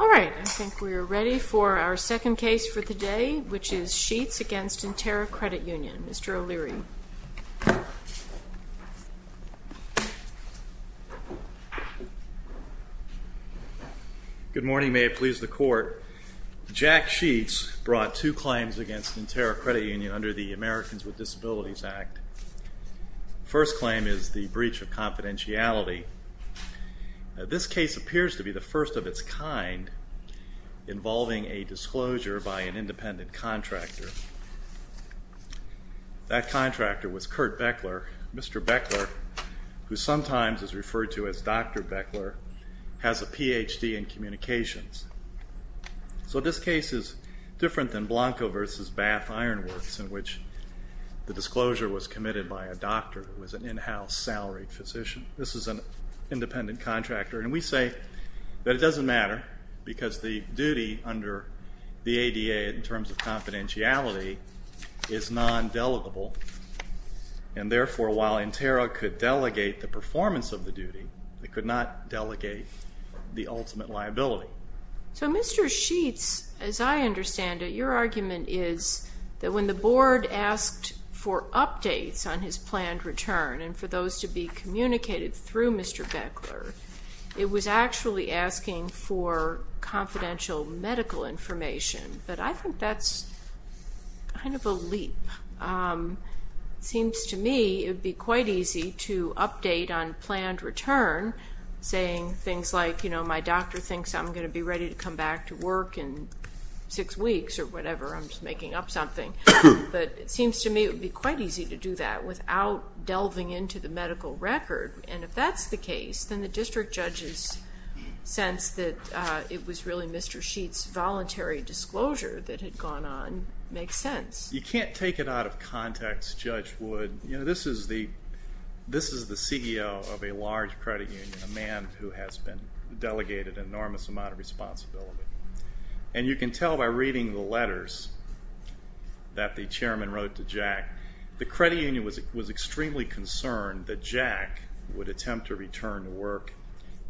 Alright, I think we are ready for our second case for the day, which is Sheets v. Interra Credit Union. Mr. O'Leary. Good morning, may it please the Court. Jack Sheets brought two claims against Interra Credit Union under the Americans with Disabilities Act. The first claim is the breach of confidentiality. This case appears to be the first of its kind involving a disclosure by an independent contractor. That contractor was Kurt Beckler. Mr. Beckler, who sometimes is referred to as Dr. Beckler, has a Ph.D. in communications. So this case is different than Blanco v. Bath-Ironworths, in which the disclosure was committed by a doctor who was an in-house salaried physician. This is an independent contractor, and we say that it doesn't matter because the duty under the ADA in terms of confidentiality is non-delegable, and therefore while Interra could delegate the performance of the duty, it could not delegate the ultimate liability. So Mr. Sheets, as I understand it, your argument is that when the Board asked for updates on his planned return and for those to be communicated through Mr. Beckler, it was actually asking for confidential medical information, but I think that's kind of a leap. It seems to me it would be quite easy to update on planned return, saying things like, you know, my doctor thinks I'm going to be ready to come back to work in six weeks or whatever, I'm just making up something. But it seems to me it would be quite easy to do that without delving into the medical record, and if that's the case, then the district judge's sense that it was really Mr. Sheets' voluntary disclosure that had gone on makes sense. You can't take it out of context, Judge Wood. You know, this is the CEO of a large credit union, a man who has been delegated an enormous amount of responsibility, and you can tell by reading the letters that the chairman wrote to Jack. The credit union was extremely concerned that Jack would attempt to return to work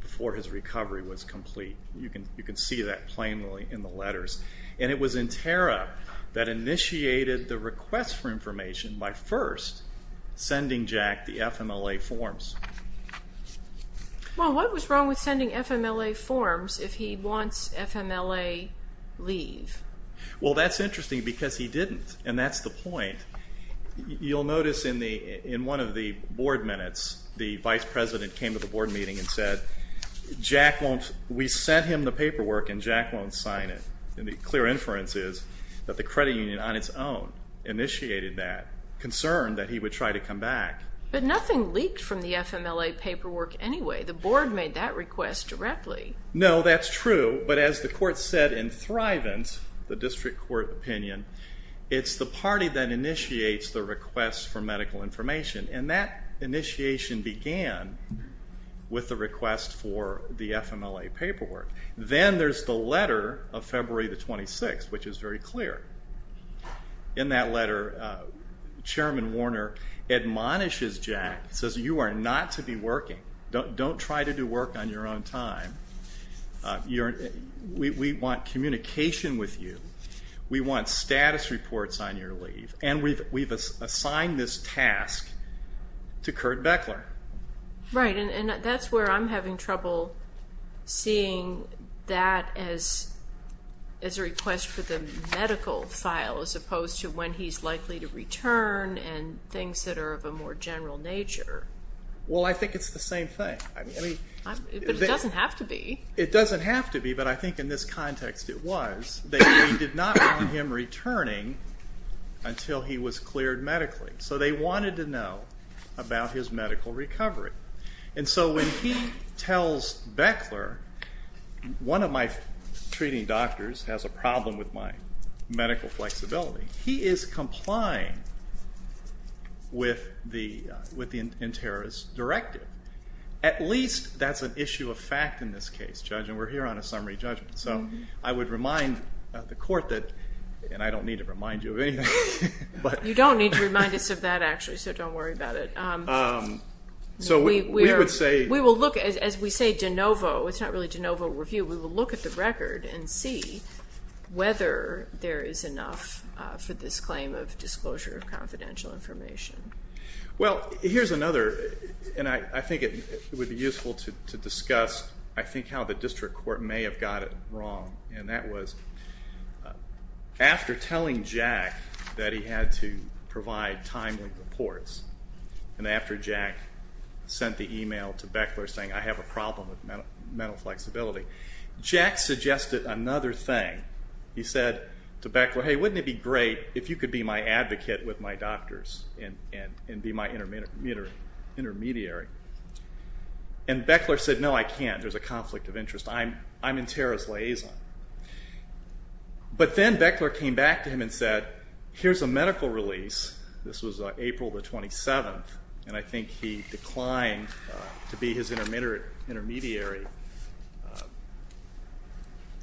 before his recovery was complete. You can see that plainly in the letters, and it was Interra that initiated the request for information by first sending Jack the FMLA forms. Well, what was wrong with sending FMLA forms if he wants FMLA leave? Well, that's interesting because he didn't, and that's the point. You'll notice in one of the board minutes, the vice president came to the board meeting and said, Jack won't, we sent him the paperwork and Jack won't sign it. And the clear inference is that the credit union on its own initiated that, concerned that he would try to come back. But nothing leaked from the FMLA paperwork anyway. The board made that request directly. No, that's true, but as the court said in Thrivant, the district court opinion, it's the party that initiates the request for medical information, and that initiation began with the request for the FMLA paperwork. Then there's the letter of February the 26th, which is very clear. In that letter, Chairman Warner admonishes Jack, says you are not to be working. Don't try to do work on your own time. We want communication with you. We want status reports on your leave, and we've assigned this task to Kurt Beckler. Right, and that's where I'm having trouble seeing that as a request for the medical file, as opposed to when he's likely to return and things that are of a more general nature. Well, I think it's the same thing. But it doesn't have to be. It doesn't have to be, but I think in this context it was. They did not want him returning until he was cleared medically. So they wanted to know about his medical recovery. And so when he tells Beckler, one of my treating doctors has a problem with my medical flexibility, he is complying with the interrogation directive. At least that's an issue of fact in this case, Judge, and we're here on a summary judgment. So I would remind the court that, and I don't need to remind you of anything. You don't need to remind us of that, actually, so don't worry about it. We will look, as we say de novo, it's not really de novo review, we will look at the record and see whether there is enough for this claim of disclosure of confidential information. Well, here's another, and I think it would be useful to discuss, I think, and that was after telling Jack that he had to provide timely reports, and after Jack sent the email to Beckler saying, I have a problem with mental flexibility, Jack suggested another thing. He said to Beckler, hey, wouldn't it be great if you could be my advocate with my doctors and be my intermediary? And Beckler said, no, I can't. There's a conflict of interest. I'm in Tara's liaison. But then Beckler came back to him and said, here's a medical release. This was April the 27th, and I think he declined to be his intermediary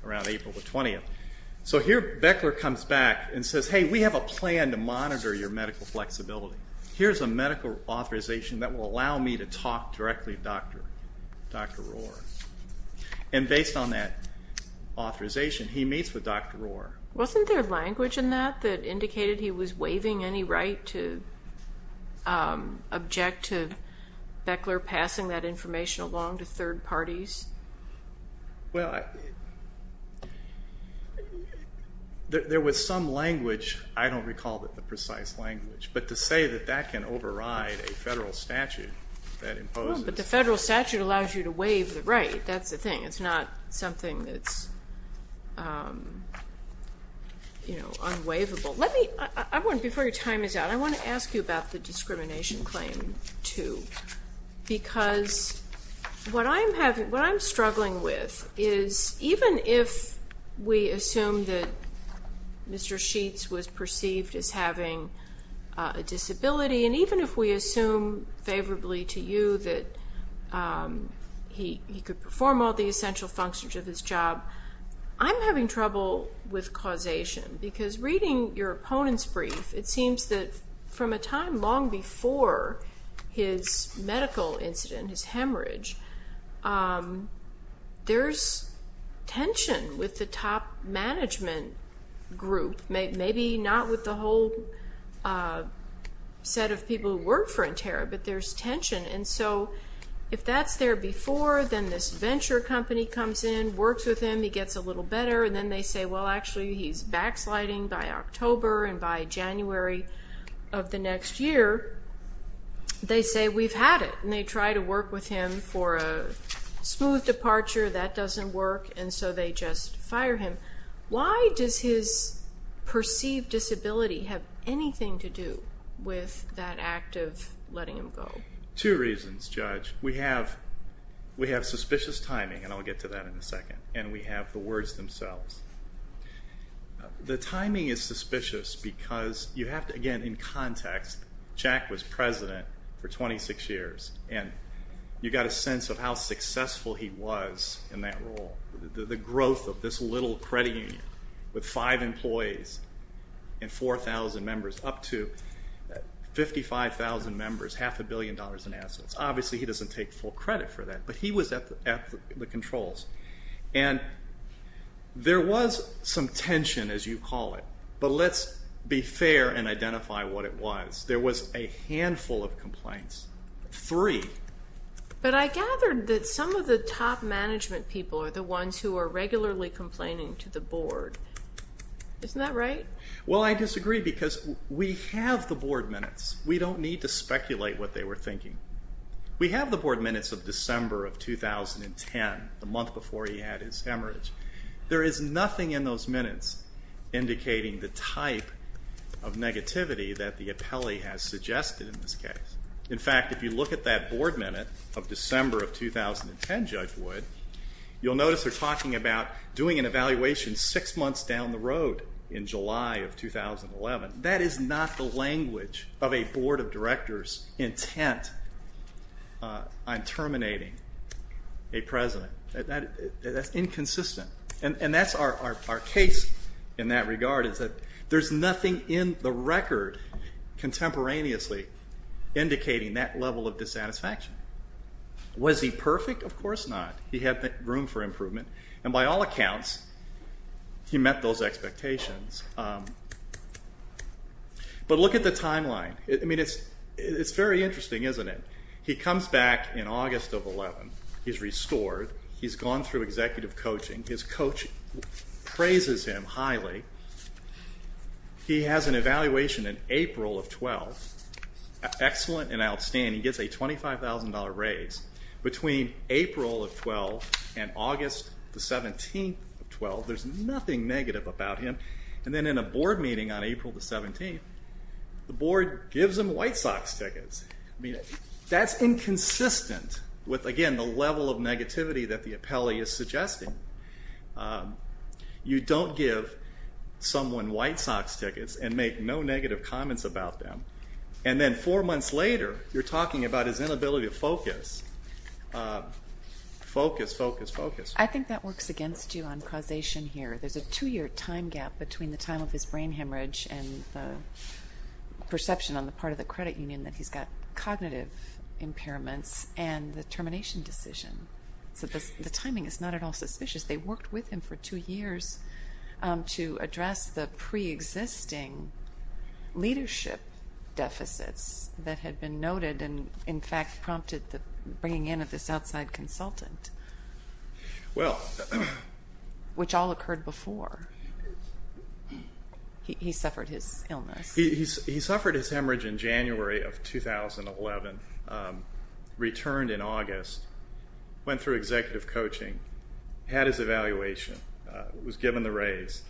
around April the 20th. So here Beckler comes back and says, hey, we have a plan to monitor your medical flexibility. Here's a medical authorization that will allow me to talk directly to Dr. Rohr. And based on that authorization, he meets with Dr. Rohr. Wasn't there language in that that indicated he was waiving any right to object to Beckler passing that information along to third parties? Well, there was some language. I don't recall the precise language. But to say that that can override a federal statute that imposes. The federal statute allows you to waive the right. That's the thing. It's not something that's unwaivable. Before your time is out, I want to ask you about the discrimination claim too. Because what I'm struggling with is even if we assume that Mr. Sheets was perceived as having a disability, and even if we assume favorably to you that he could perform all the essential functions of his job, I'm having trouble with causation. Because reading your opponent's brief, it seems that from a time long before his medical incident, his hemorrhage, there's tension with the top management group. Maybe not with the whole set of people who work for Interra, but there's tension. And so if that's there before, then this venture company comes in, works with him, he gets a little better, and then they say, well, actually, he's backsliding by October and by January of the next year. They say, we've had it, and they try to work with him for a smooth departure. That doesn't work, and so they just fire him. Why does his perceived disability have anything to do with that act of letting him go? Two reasons, Judge. We have suspicious timing, and I'll get to that in a second. And we have the words themselves. The timing is suspicious because you have to, again, in context, Jack was president for 26 years, and you've got a sense of how successful he was in that role. The growth of this little credit union with five employees and 4,000 members, up to 55,000 members, half a billion dollars in assets. Obviously, he doesn't take full credit for that, but he was at the controls. And there was some tension, as you call it, but let's be fair and identify what it was. There was a handful of complaints, three. But I gathered that some of the top management people are the ones who are regularly complaining to the board. Isn't that right? Well, I disagree because we have the board minutes. We don't need to speculate what they were thinking. We have the board minutes of December of 2010, the month before he had his hemorrhage. There is nothing in those minutes indicating the type of negativity that the appellee has suggested in this case. In fact, if you look at that board minute of December of 2010, Judge Wood, you'll notice they're talking about doing an evaluation six months down the road in July of 2011. That is not the language of a board of directors intent on terminating a president. That's inconsistent, and that's our case in that regard, is that there's nothing in the record contemporaneously indicating that level of dissatisfaction. Was he perfect? Of course not. He had room for improvement, and by all accounts, he met those expectations. But look at the timeline. It's very interesting, isn't it? He comes back in August of 2011. He's restored. He's gone through executive coaching. His coach praises him highly. He has an evaluation in April of 2012. Excellent and outstanding. He gets a $25,000 raise. Between April of 12 and August the 17th of 12, there's nothing negative about him, and then in a board meeting on April the 17th, the board gives him White Sox tickets. That's inconsistent with, again, the level of negativity that the appellee is suggesting. You don't give someone White Sox tickets and make no negative comments about them, and then four months later, you're talking about his inability to focus. Focus, focus, focus. I think that works against you on causation here. There's a two-year time gap between the time of his brain hemorrhage and the perception on the part of the credit union that he's got cognitive impairments and the termination decision. So the timing is not at all suspicious. They worked with him for two years to address the preexisting leadership deficits that had been noted and, in fact, prompted the bringing in of this outside consultant, which all occurred before he suffered his illness. He suffered his hemorrhage in January of 2011, returned in August, went through executive coaching, had his evaluation, was given the raise,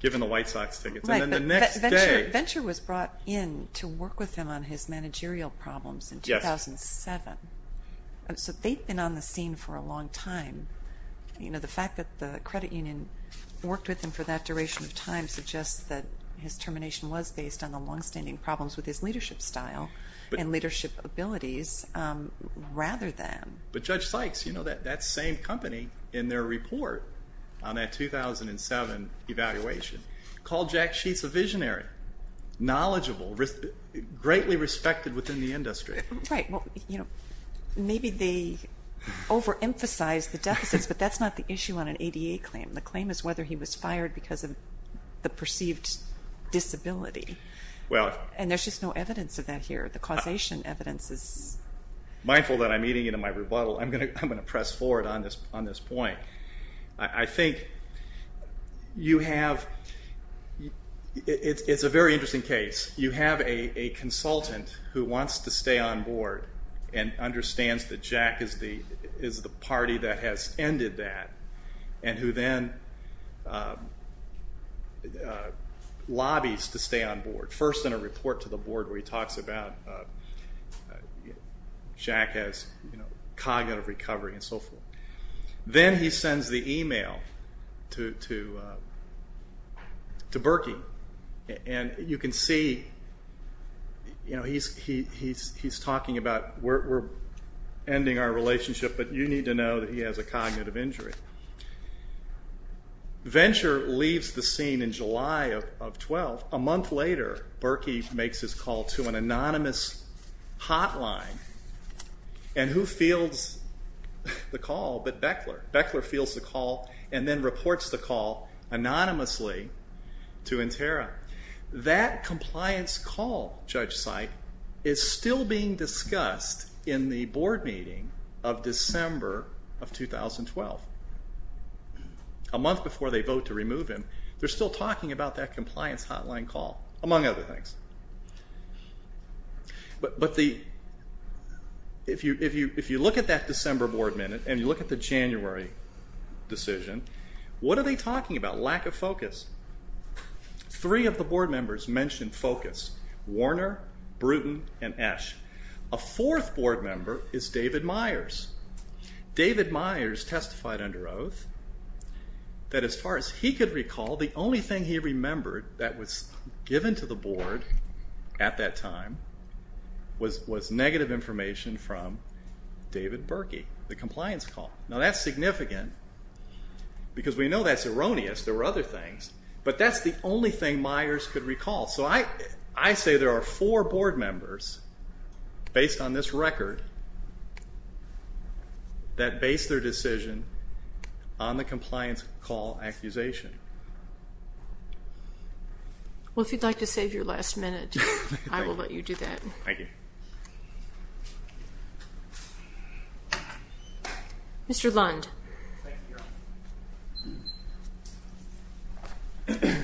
given the White Sox tickets, and then the next day. Venture was brought in to work with him on his managerial problems in 2007. So they've been on the scene for a long time. You know, the fact that the credit union worked with him for that duration of time suggests that his termination was based on the longstanding problems with his leadership style and leadership abilities rather than. But Judge Sykes, you know, that same company in their report on that 2007 evaluation called Jack Sheets a visionary, knowledgeable, greatly respected within the industry. Right. Well, you know, maybe they overemphasized the deficits, but that's not the issue on an ADA claim. The claim is whether he was fired because of the perceived disability. And there's just no evidence of that here. The causation evidence is... I feel that I'm eating into my rebuttal. I'm going to press forward on this point. I think you have... It's a very interesting case. You have a consultant who wants to stay on board and understands that Jack is the party that has ended that and who then lobbies to stay on board. First in a report to the board where he talks about Jack has cognitive recovery and so forth. Then he sends the email to Berkey, and you can see he's talking about we're ending our relationship, but you need to know that he has a cognitive injury. Venture leaves the scene in July of 2012. A month later, Berkey makes his call to an anonymous hotline and who fields the call but Beckler. Beckler fields the call and then reports the call anonymously to Interra. That compliance call, Judge Seid, is still being discussed in the board meeting of December of 2012. A month before they vote to remove him, they're still talking about that compliance hotline call, among other things. If you look at that December board meeting and you look at the January decision, what are they talking about? Lack of focus. Three of the board members mentioned focus. Warner, Bruton, and Esch. A fourth board member is David Myers. David Myers testified under oath that as far as he could recall, the only thing he remembered that was given to the board at that time was negative information from David Berkey, the compliance call. Now that's significant because we know that's erroneous. There were other things, but that's the only thing Myers could recall. I say there are four board members, based on this record, that base their decision on the compliance call accusation. Well, if you'd like to save your last minute, I will let you do that. Thank you. Mr. Lund. Thank you, Your Honor.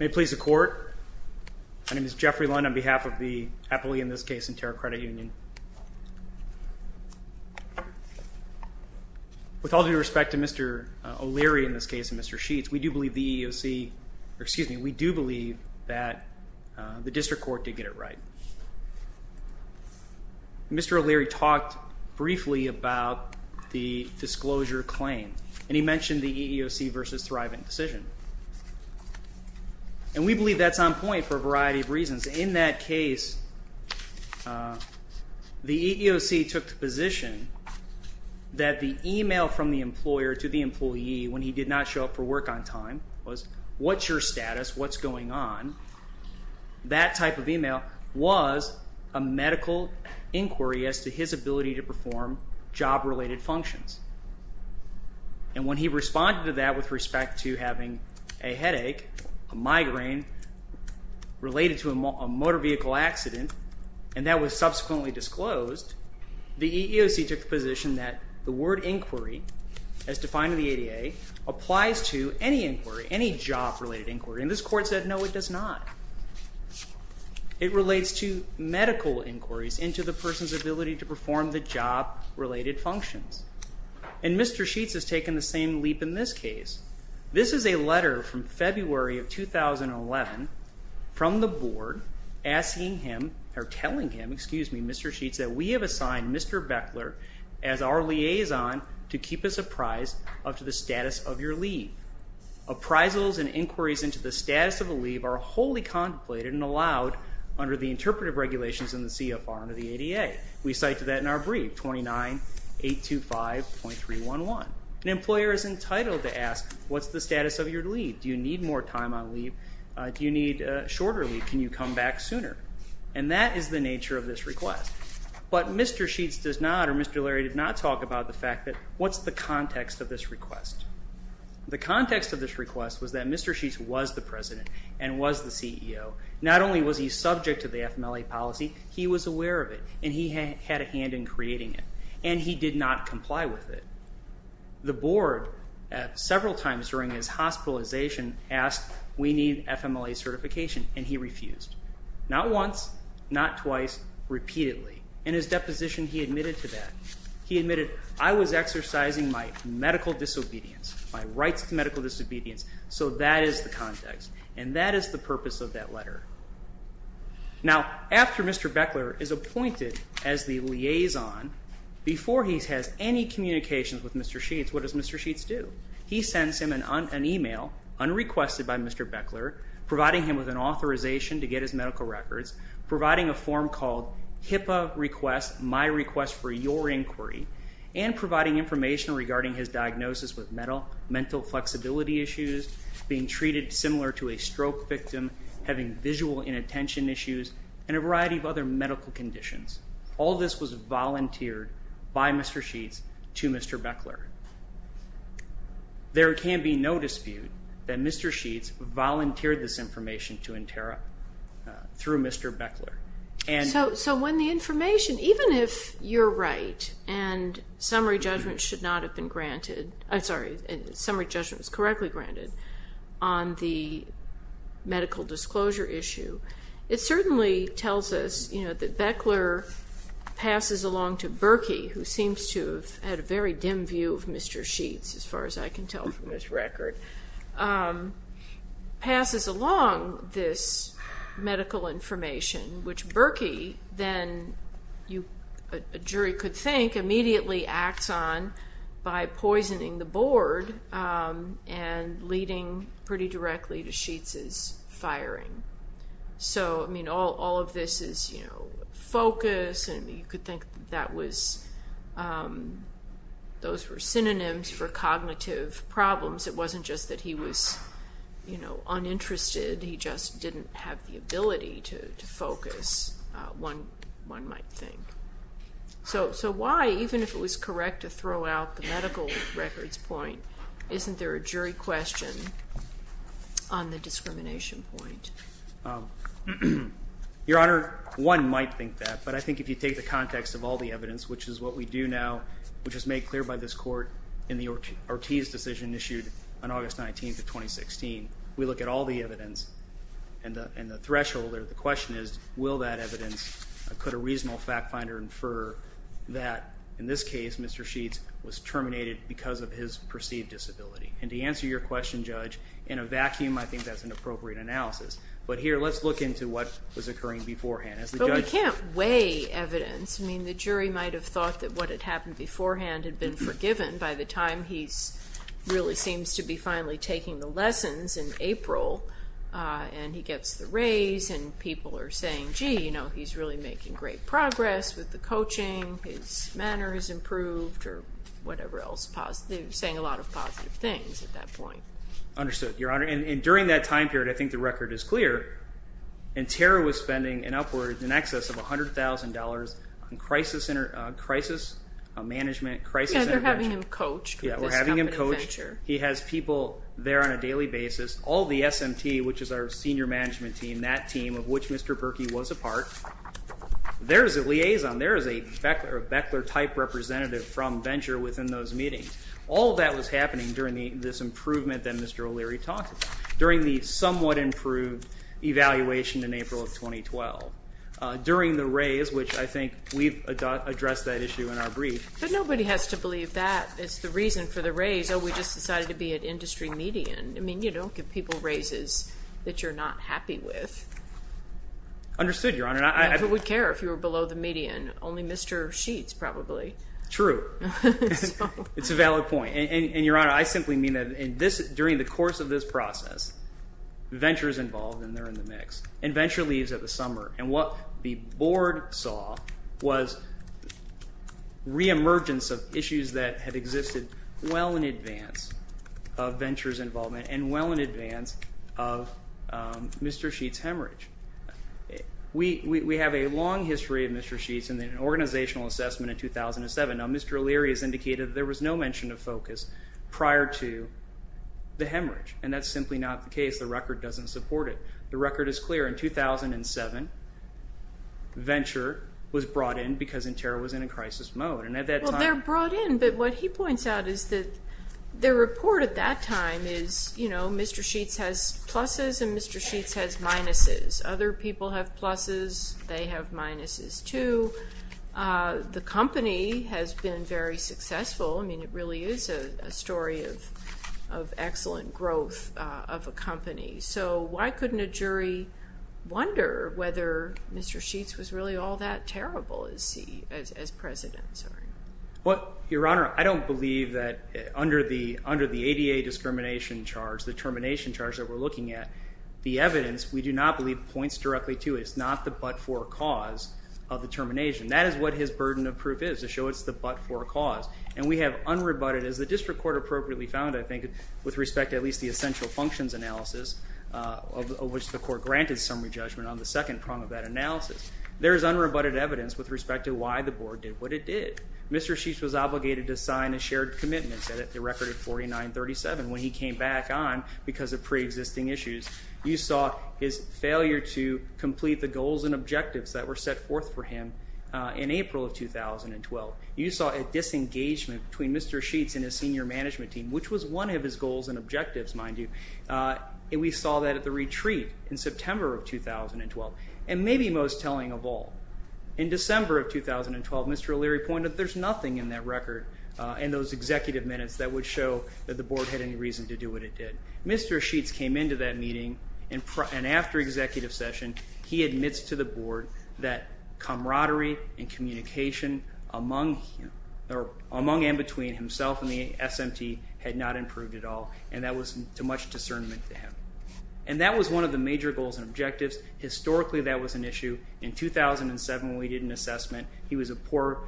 May it please the court. My name is Jeffrey Lund on behalf of the appellee in this case in Terra Credit Union. With all due respect to Mr. O'Leary in this case and Mr. Sheets, we do believe the EEOC, or excuse me, we do believe that the district court did get it right. Mr. O'Leary talked briefly about the disclosure claim, and he mentioned the EEOC versus Thriven decision. And we believe that's on point for a variety of reasons. In that case, the EEOC took the position that the email from the employer to the employee when he did not show up for work on time was, what's your status, what's going on? That type of email was a medical inquiry as to his ability to perform job-related functions. And when he responded to that with respect to having a headache, a migraine related to a motor vehicle accident, and that was subsequently disclosed, the EEOC took the position that the word inquiry, as defined in the ADA, applies to any inquiry, any job-related inquiry. And this court said, no, it does not. It relates to medical inquiries into the person's ability to perform the job-related functions. And Mr. Sheets has taken the same leap in this case. This is a letter from February of 2011 from the board asking him, or telling him, excuse me, Mr. Sheets, that we have assigned Mr. Beckler as our liaison to keep us apprised of the status of your leave. Appraisals and inquiries into the status of a leave are wholly contemplated and allowed under the interpretive regulations in the CFR under the ADA. We cite to that in our brief, 29.825.311. An employer is entitled to ask, what's the status of your leave? Do you need more time on leave? Do you need a shorter leave? Can you come back sooner? And that is the nature of this request. But Mr. Sheets does not, or Mr. Larry did not talk about the fact that, what's the context of this request? The context of this request was that Mr. Sheets was the president and was the CEO. Not only was he subject to the FMLA policy, he was aware of it, and he had a hand in creating it, and he did not comply with it. The board, several times during his hospitalization, asked, we need FMLA certification, and he refused. Not once, not twice, repeatedly. In his deposition, he admitted to that. He admitted, I was exercising my medical disobedience, my rights to medical disobedience, so that is the context, and that is the purpose of that letter. Now, after Mr. Beckler is appointed as the liaison, before he has any communications with Mr. Sheets, what does Mr. Sheets do? He sends him an email, unrequested by Mr. Beckler, providing him with an authorization to get his medical records, providing a form called HIPAA request, my request for your inquiry, and providing information regarding his diagnosis with mental flexibility issues, being treated similar to a stroke victim, having visual inattention issues, and a variety of other medical conditions. All this was volunteered by Mr. Sheets to Mr. Beckler. There can be no dispute that Mr. Sheets volunteered this information to Interra through Mr. Beckler. So when the information, even if you're right and summary judgment was correctly granted on the medical disclosure issue, it certainly tells us that Beckler passes along to Berkey, who seems to have had a very dim view of Mr. Sheets, as far as I can tell from this record, passes along this medical information, which Berkey then, a jury could think, immediately acts on by poisoning the board and leading pretty directly to Sheets' firing. So, I mean, all of this is, you know, focus, and you could think that those were synonyms for cognitive problems. It wasn't just that he was, you know, uninterested. He just didn't have the ability to focus, one might think. So why, even if it was correct to throw out the medical records point, isn't there a jury question on the discrimination point? Your Honor, one might think that, but I think if you take the context of all the evidence, which is what we do now, which was made clear by this Court in the Ortiz decision issued on August 19th of 2016, we look at all the evidence and the threshold, or the question is, will that evidence, could a reasonable fact finder infer that, in this case, Mr. Sheets was terminated because of his perceived disability? And to answer your question, Judge, in a vacuum I think that's an appropriate analysis. But here, let's look into what was occurring beforehand. But we can't weigh evidence. I mean, the jury might have thought that what had happened beforehand had been forgiven by the time he really seems to be finally taking the lessons in April, and he gets the raise, and people are saying, gee, you know, he's really making great progress with the coaching, his manner has improved, or whatever else, saying a lot of positive things at that point. Understood, Your Honor. And during that time period, I think the record is clear, and Tara was spending an upward in excess of $100,000 on crisis management, crisis intervention. Yeah, they're having him coached with this company Venture. Yeah, we're having him coached. He has people there on a daily basis. All the SMT, which is our senior management team, that team of which Mr. Berkey was a part, there is a liaison, there is a Beckler-type representative from Venture within those meetings. All of that was happening during this improvement that Mr. O'Leary talked about. During the somewhat improved evaluation in April of 2012. During the raise, which I think we've addressed that issue in our brief. But nobody has to believe that is the reason for the raise. Oh, we just decided to be an industry median. I mean, you don't give people raises that you're not happy with. Understood, Your Honor. Who would care if you were below the median? Only Mr. Sheets, probably. True. It's a valid point. And, Your Honor, I simply mean that during the course of this process, Venture is involved and they're in the mix. And Venture leaves at the summer. And what the Board saw was reemergence of issues that had existed well in advance of Venture's involvement and well in advance of Mr. Sheets' hemorrhage. We have a long history of Mr. Sheets in an organizational assessment in 2007. Now, Mr. O'Leary has indicated there was no mention of focus prior to the hemorrhage. And that's simply not the case. The record doesn't support it. The record is clear. In 2007, Venture was brought in because Interra was in a crisis mode. Well, they're brought in. But what he points out is that their report at that time is, you know, Mr. Sheets has pluses and Mr. Sheets has minuses. Other people have pluses. They have minuses, too. The company has been very successful. I mean, it really is a story of excellent growth of a company. So why couldn't a jury wonder whether Mr. Sheets was really all that terrible as president? Your Honor, I don't believe that under the ADA discrimination charge, the termination charge that we're looking at, the evidence we do not believe points directly to it. That is what his burden of proof is, to show it's the but for a cause. And we have unrebutted, as the district court appropriately found, I think, with respect to at least the essential functions analysis, of which the court granted summary judgment on the second prong of that analysis. There is unrebutted evidence with respect to why the board did what it did. Mr. Sheets was obligated to sign a shared commitment set at the record of 49-37. When he came back on, because of preexisting issues, you saw his failure to complete the goals and objectives that were set forth for him in April of 2012. You saw a disengagement between Mr. Sheets and his senior management team, which was one of his goals and objectives, mind you. And we saw that at the retreat in September of 2012. And maybe most telling of all, in December of 2012, Mr. O'Leary pointed that there's nothing in that record and those executive minutes that would show that the board had any reason to do what it did. Mr. Sheets came into that meeting, and after executive session, he admits to the board that camaraderie and communication among and between himself and the SMT had not improved at all, and that was too much discernment to him. And that was one of the major goals and objectives. Historically, that was an issue. In 2007, when we did an assessment, he was a poor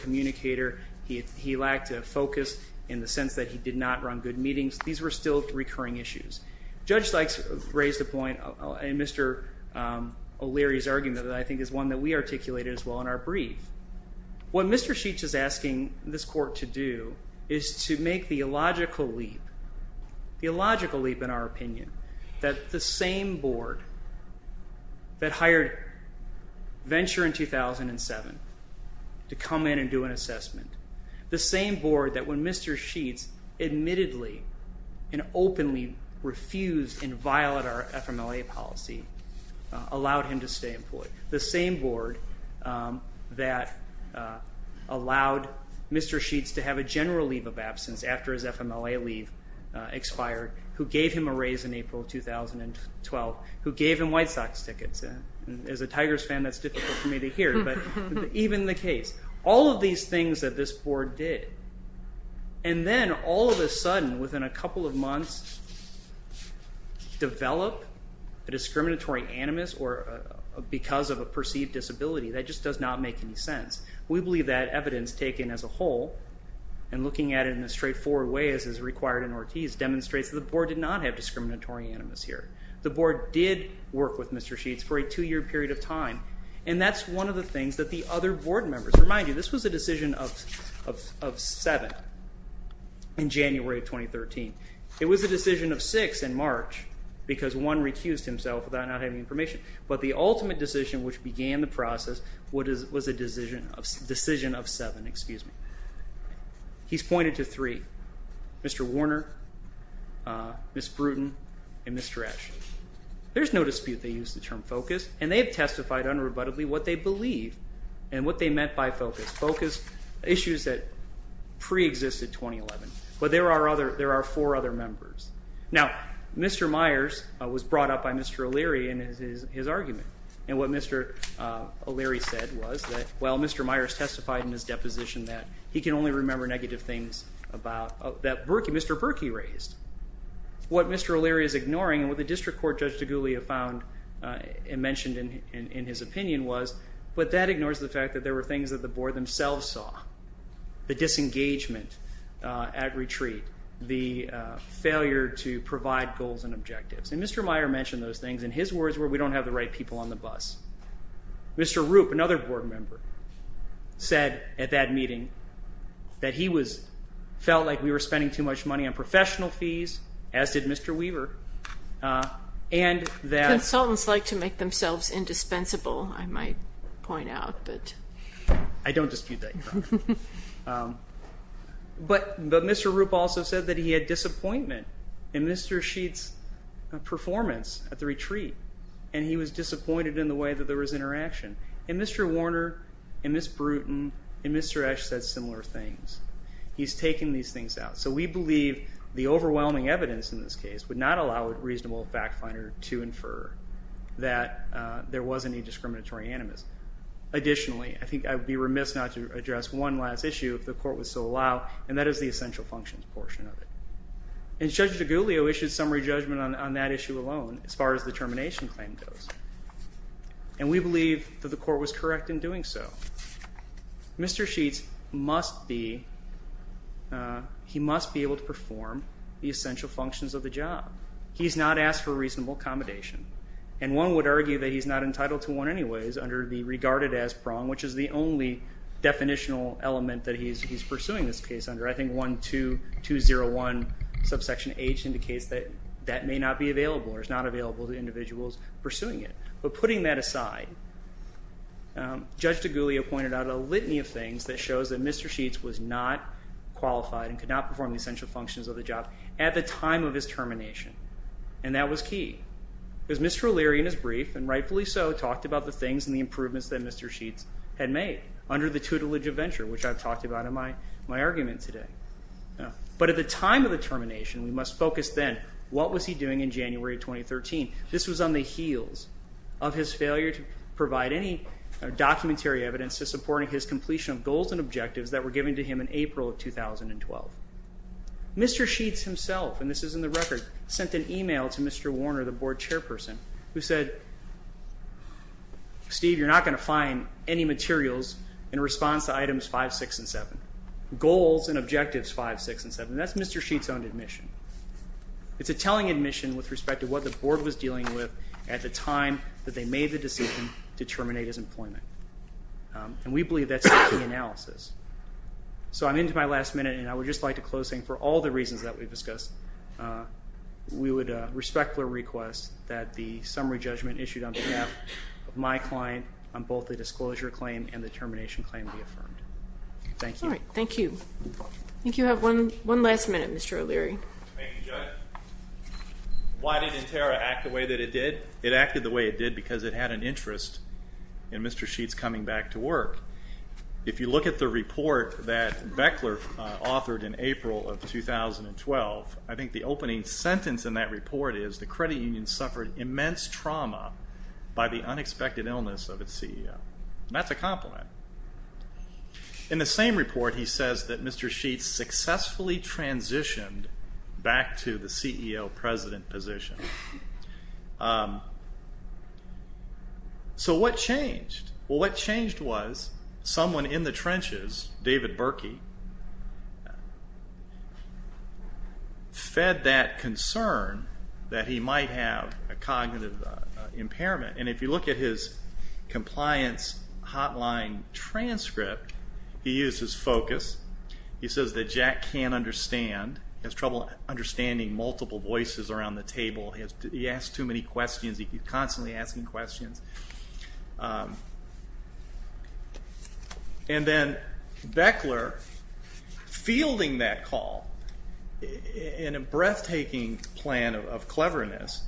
communicator. He lacked a focus in the sense that he did not run good meetings. These were still recurring issues. Judge Sykes raised a point in Mr. O'Leary's argument that I think is one that we articulated as well in our brief. What Mr. Sheets is asking this court to do is to make the illogical leap, the illogical leap in our opinion, that the same board that hired Venture in 2007 to come in and do an assessment, the same board that when Mr. Sheets admittedly and openly refused and violated our FMLA policy allowed him to stay employed, the same board that allowed Mr. Sheets to have a general leave of absence after his FMLA leave expired, who gave him a raise in April 2012, who gave him White Sox tickets. As a Tigers fan, that's difficult for me to hear, but even the case. All of these things that this board did, and then all of a sudden, within a couple of months, develop a discriminatory animus because of a perceived disability. That just does not make any sense. We believe that evidence taken as a whole, and looking at it in a straightforward way as is required in Ortiz, demonstrates that the board did not have discriminatory animus here. The board did work with Mr. Sheets for a two-year period of time, and that's one of the things that the other board members. Remind you, this was a decision of seven in January of 2013. It was a decision of six in March because one recused himself without not having information, but the ultimate decision, which began the process, was a decision of seven. He's pointed to three, Mr. Warner, Ms. Bruton, and Mr. Ashton. There's no dispute they used the term focus, and they have testified unrebuttably what they believe and what they meant by focus. Focus, issues that preexisted 2011, but there are four other members. Now, Mr. Myers was brought up by Mr. O'Leary in his argument, and what Mr. O'Leary said was that, well, Mr. Myers testified in his deposition that he can only remember negative things that Mr. Berkey raised. What Mr. O'Leary is ignoring, and what the district court, Judge DeGuglia, found and mentioned in his opinion was, but that ignores the fact that there were things that the board themselves saw, the disengagement at retreat, the failure to provide goals and objectives. And Mr. Myers mentioned those things, and his words were, we don't have the right people on the bus. Mr. Rupp, another board member, said at that meeting that he felt like we were spending too much money on professional fees, as did Mr. Weaver, and that... Consultants like to make themselves indispensable, I might point out. I don't dispute that. But Mr. Rupp also said that he had disappointment in Mr. Sheets' performance at the retreat, and he was disappointed in the way that there was interaction. And Mr. Warner and Ms. Brewton and Mr. Esch said similar things. He's taken these things out. So we believe the overwhelming evidence in this case would not allow a reasonable fact finder to infer that there was any discriminatory animus. Additionally, I think I would be remiss not to address one last issue, if the court would so allow, and that is the essential functions portion of it. And Judge DeGuglio issued summary judgment on that issue alone, as far as the termination claim goes. And we believe that the court was correct in doing so. Mr. Sheets must be able to perform the essential functions of the job. He's not asked for reasonable accommodation. And one would argue that he's not entitled to one anyways under the regarded as prong, which is the only definitional element that he's pursuing this case under. I think 12201 subsection H indicates that that may not be available or is not available to individuals pursuing it. But putting that aside, Judge DeGuglio pointed out a litany of things that shows that Mr. Sheets was not qualified and could not perform the essential functions of the job at the time of his termination, and that was key. Because Mr. O'Leary in his brief, and rightfully so, talked about the things and the improvements that Mr. Sheets had made under the tutelage of venture, which I've talked about in my argument today. But at the time of the termination, we must focus then, what was he doing in January of 2013? This was on the heels of his failure to provide any documentary evidence to support his completion of goals and objectives that were given to him in April of 2012. Mr. Sheets himself, and this is in the record, sent an email to Mr. Warner, the board chairperson, who said, Steve, you're not going to find any materials in response to items 5, 6, and 7. Goals and objectives 5, 6, and 7. That's Mr. Sheets' own admission. It's a telling admission with respect to what the board was dealing with at the time that they made the decision to terminate his employment. And we believe that's the key analysis. So I'm into my last minute, and I would just like to close saying, for all the reasons that we've discussed, we would respect the request that the summary judgment issued on behalf of my client on both the disclosure claim and the termination claim be affirmed. Thank you. All right, thank you. I think you have one last minute, Mr. O'Leary. Thank you, Judge. Why did Interra act the way that it did? It acted the way it did because it had an interest in Mr. Sheets coming back to work. If you look at the report that Beckler authored in April of 2012, I think the opening sentence in that report is, the credit union suffered immense trauma by the unexpected illness of its CEO. And that's a compliment. In the same report, he says that Mr. Sheets successfully transitioned back to the CEO-president position. So what changed? Well, what changed was someone in the trenches, David Berkey, fed that concern that he might have a cognitive impairment. And if you look at his compliance hotline transcript, he used his focus. He says that Jack can't understand. He has trouble understanding multiple voices around the table. He asks too many questions. He's constantly asking questions. And then Beckler, fielding that call in a breathtaking plan of cleverness,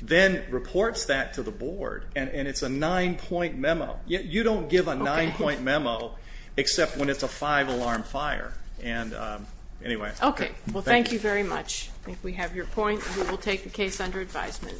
then reports that to the board. And it's a nine-point memo. You don't give a nine-point memo except when it's a five-alarm fire. And anyway. Okay. Well, thank you very much. I think we have your point. We will take the case under advisement.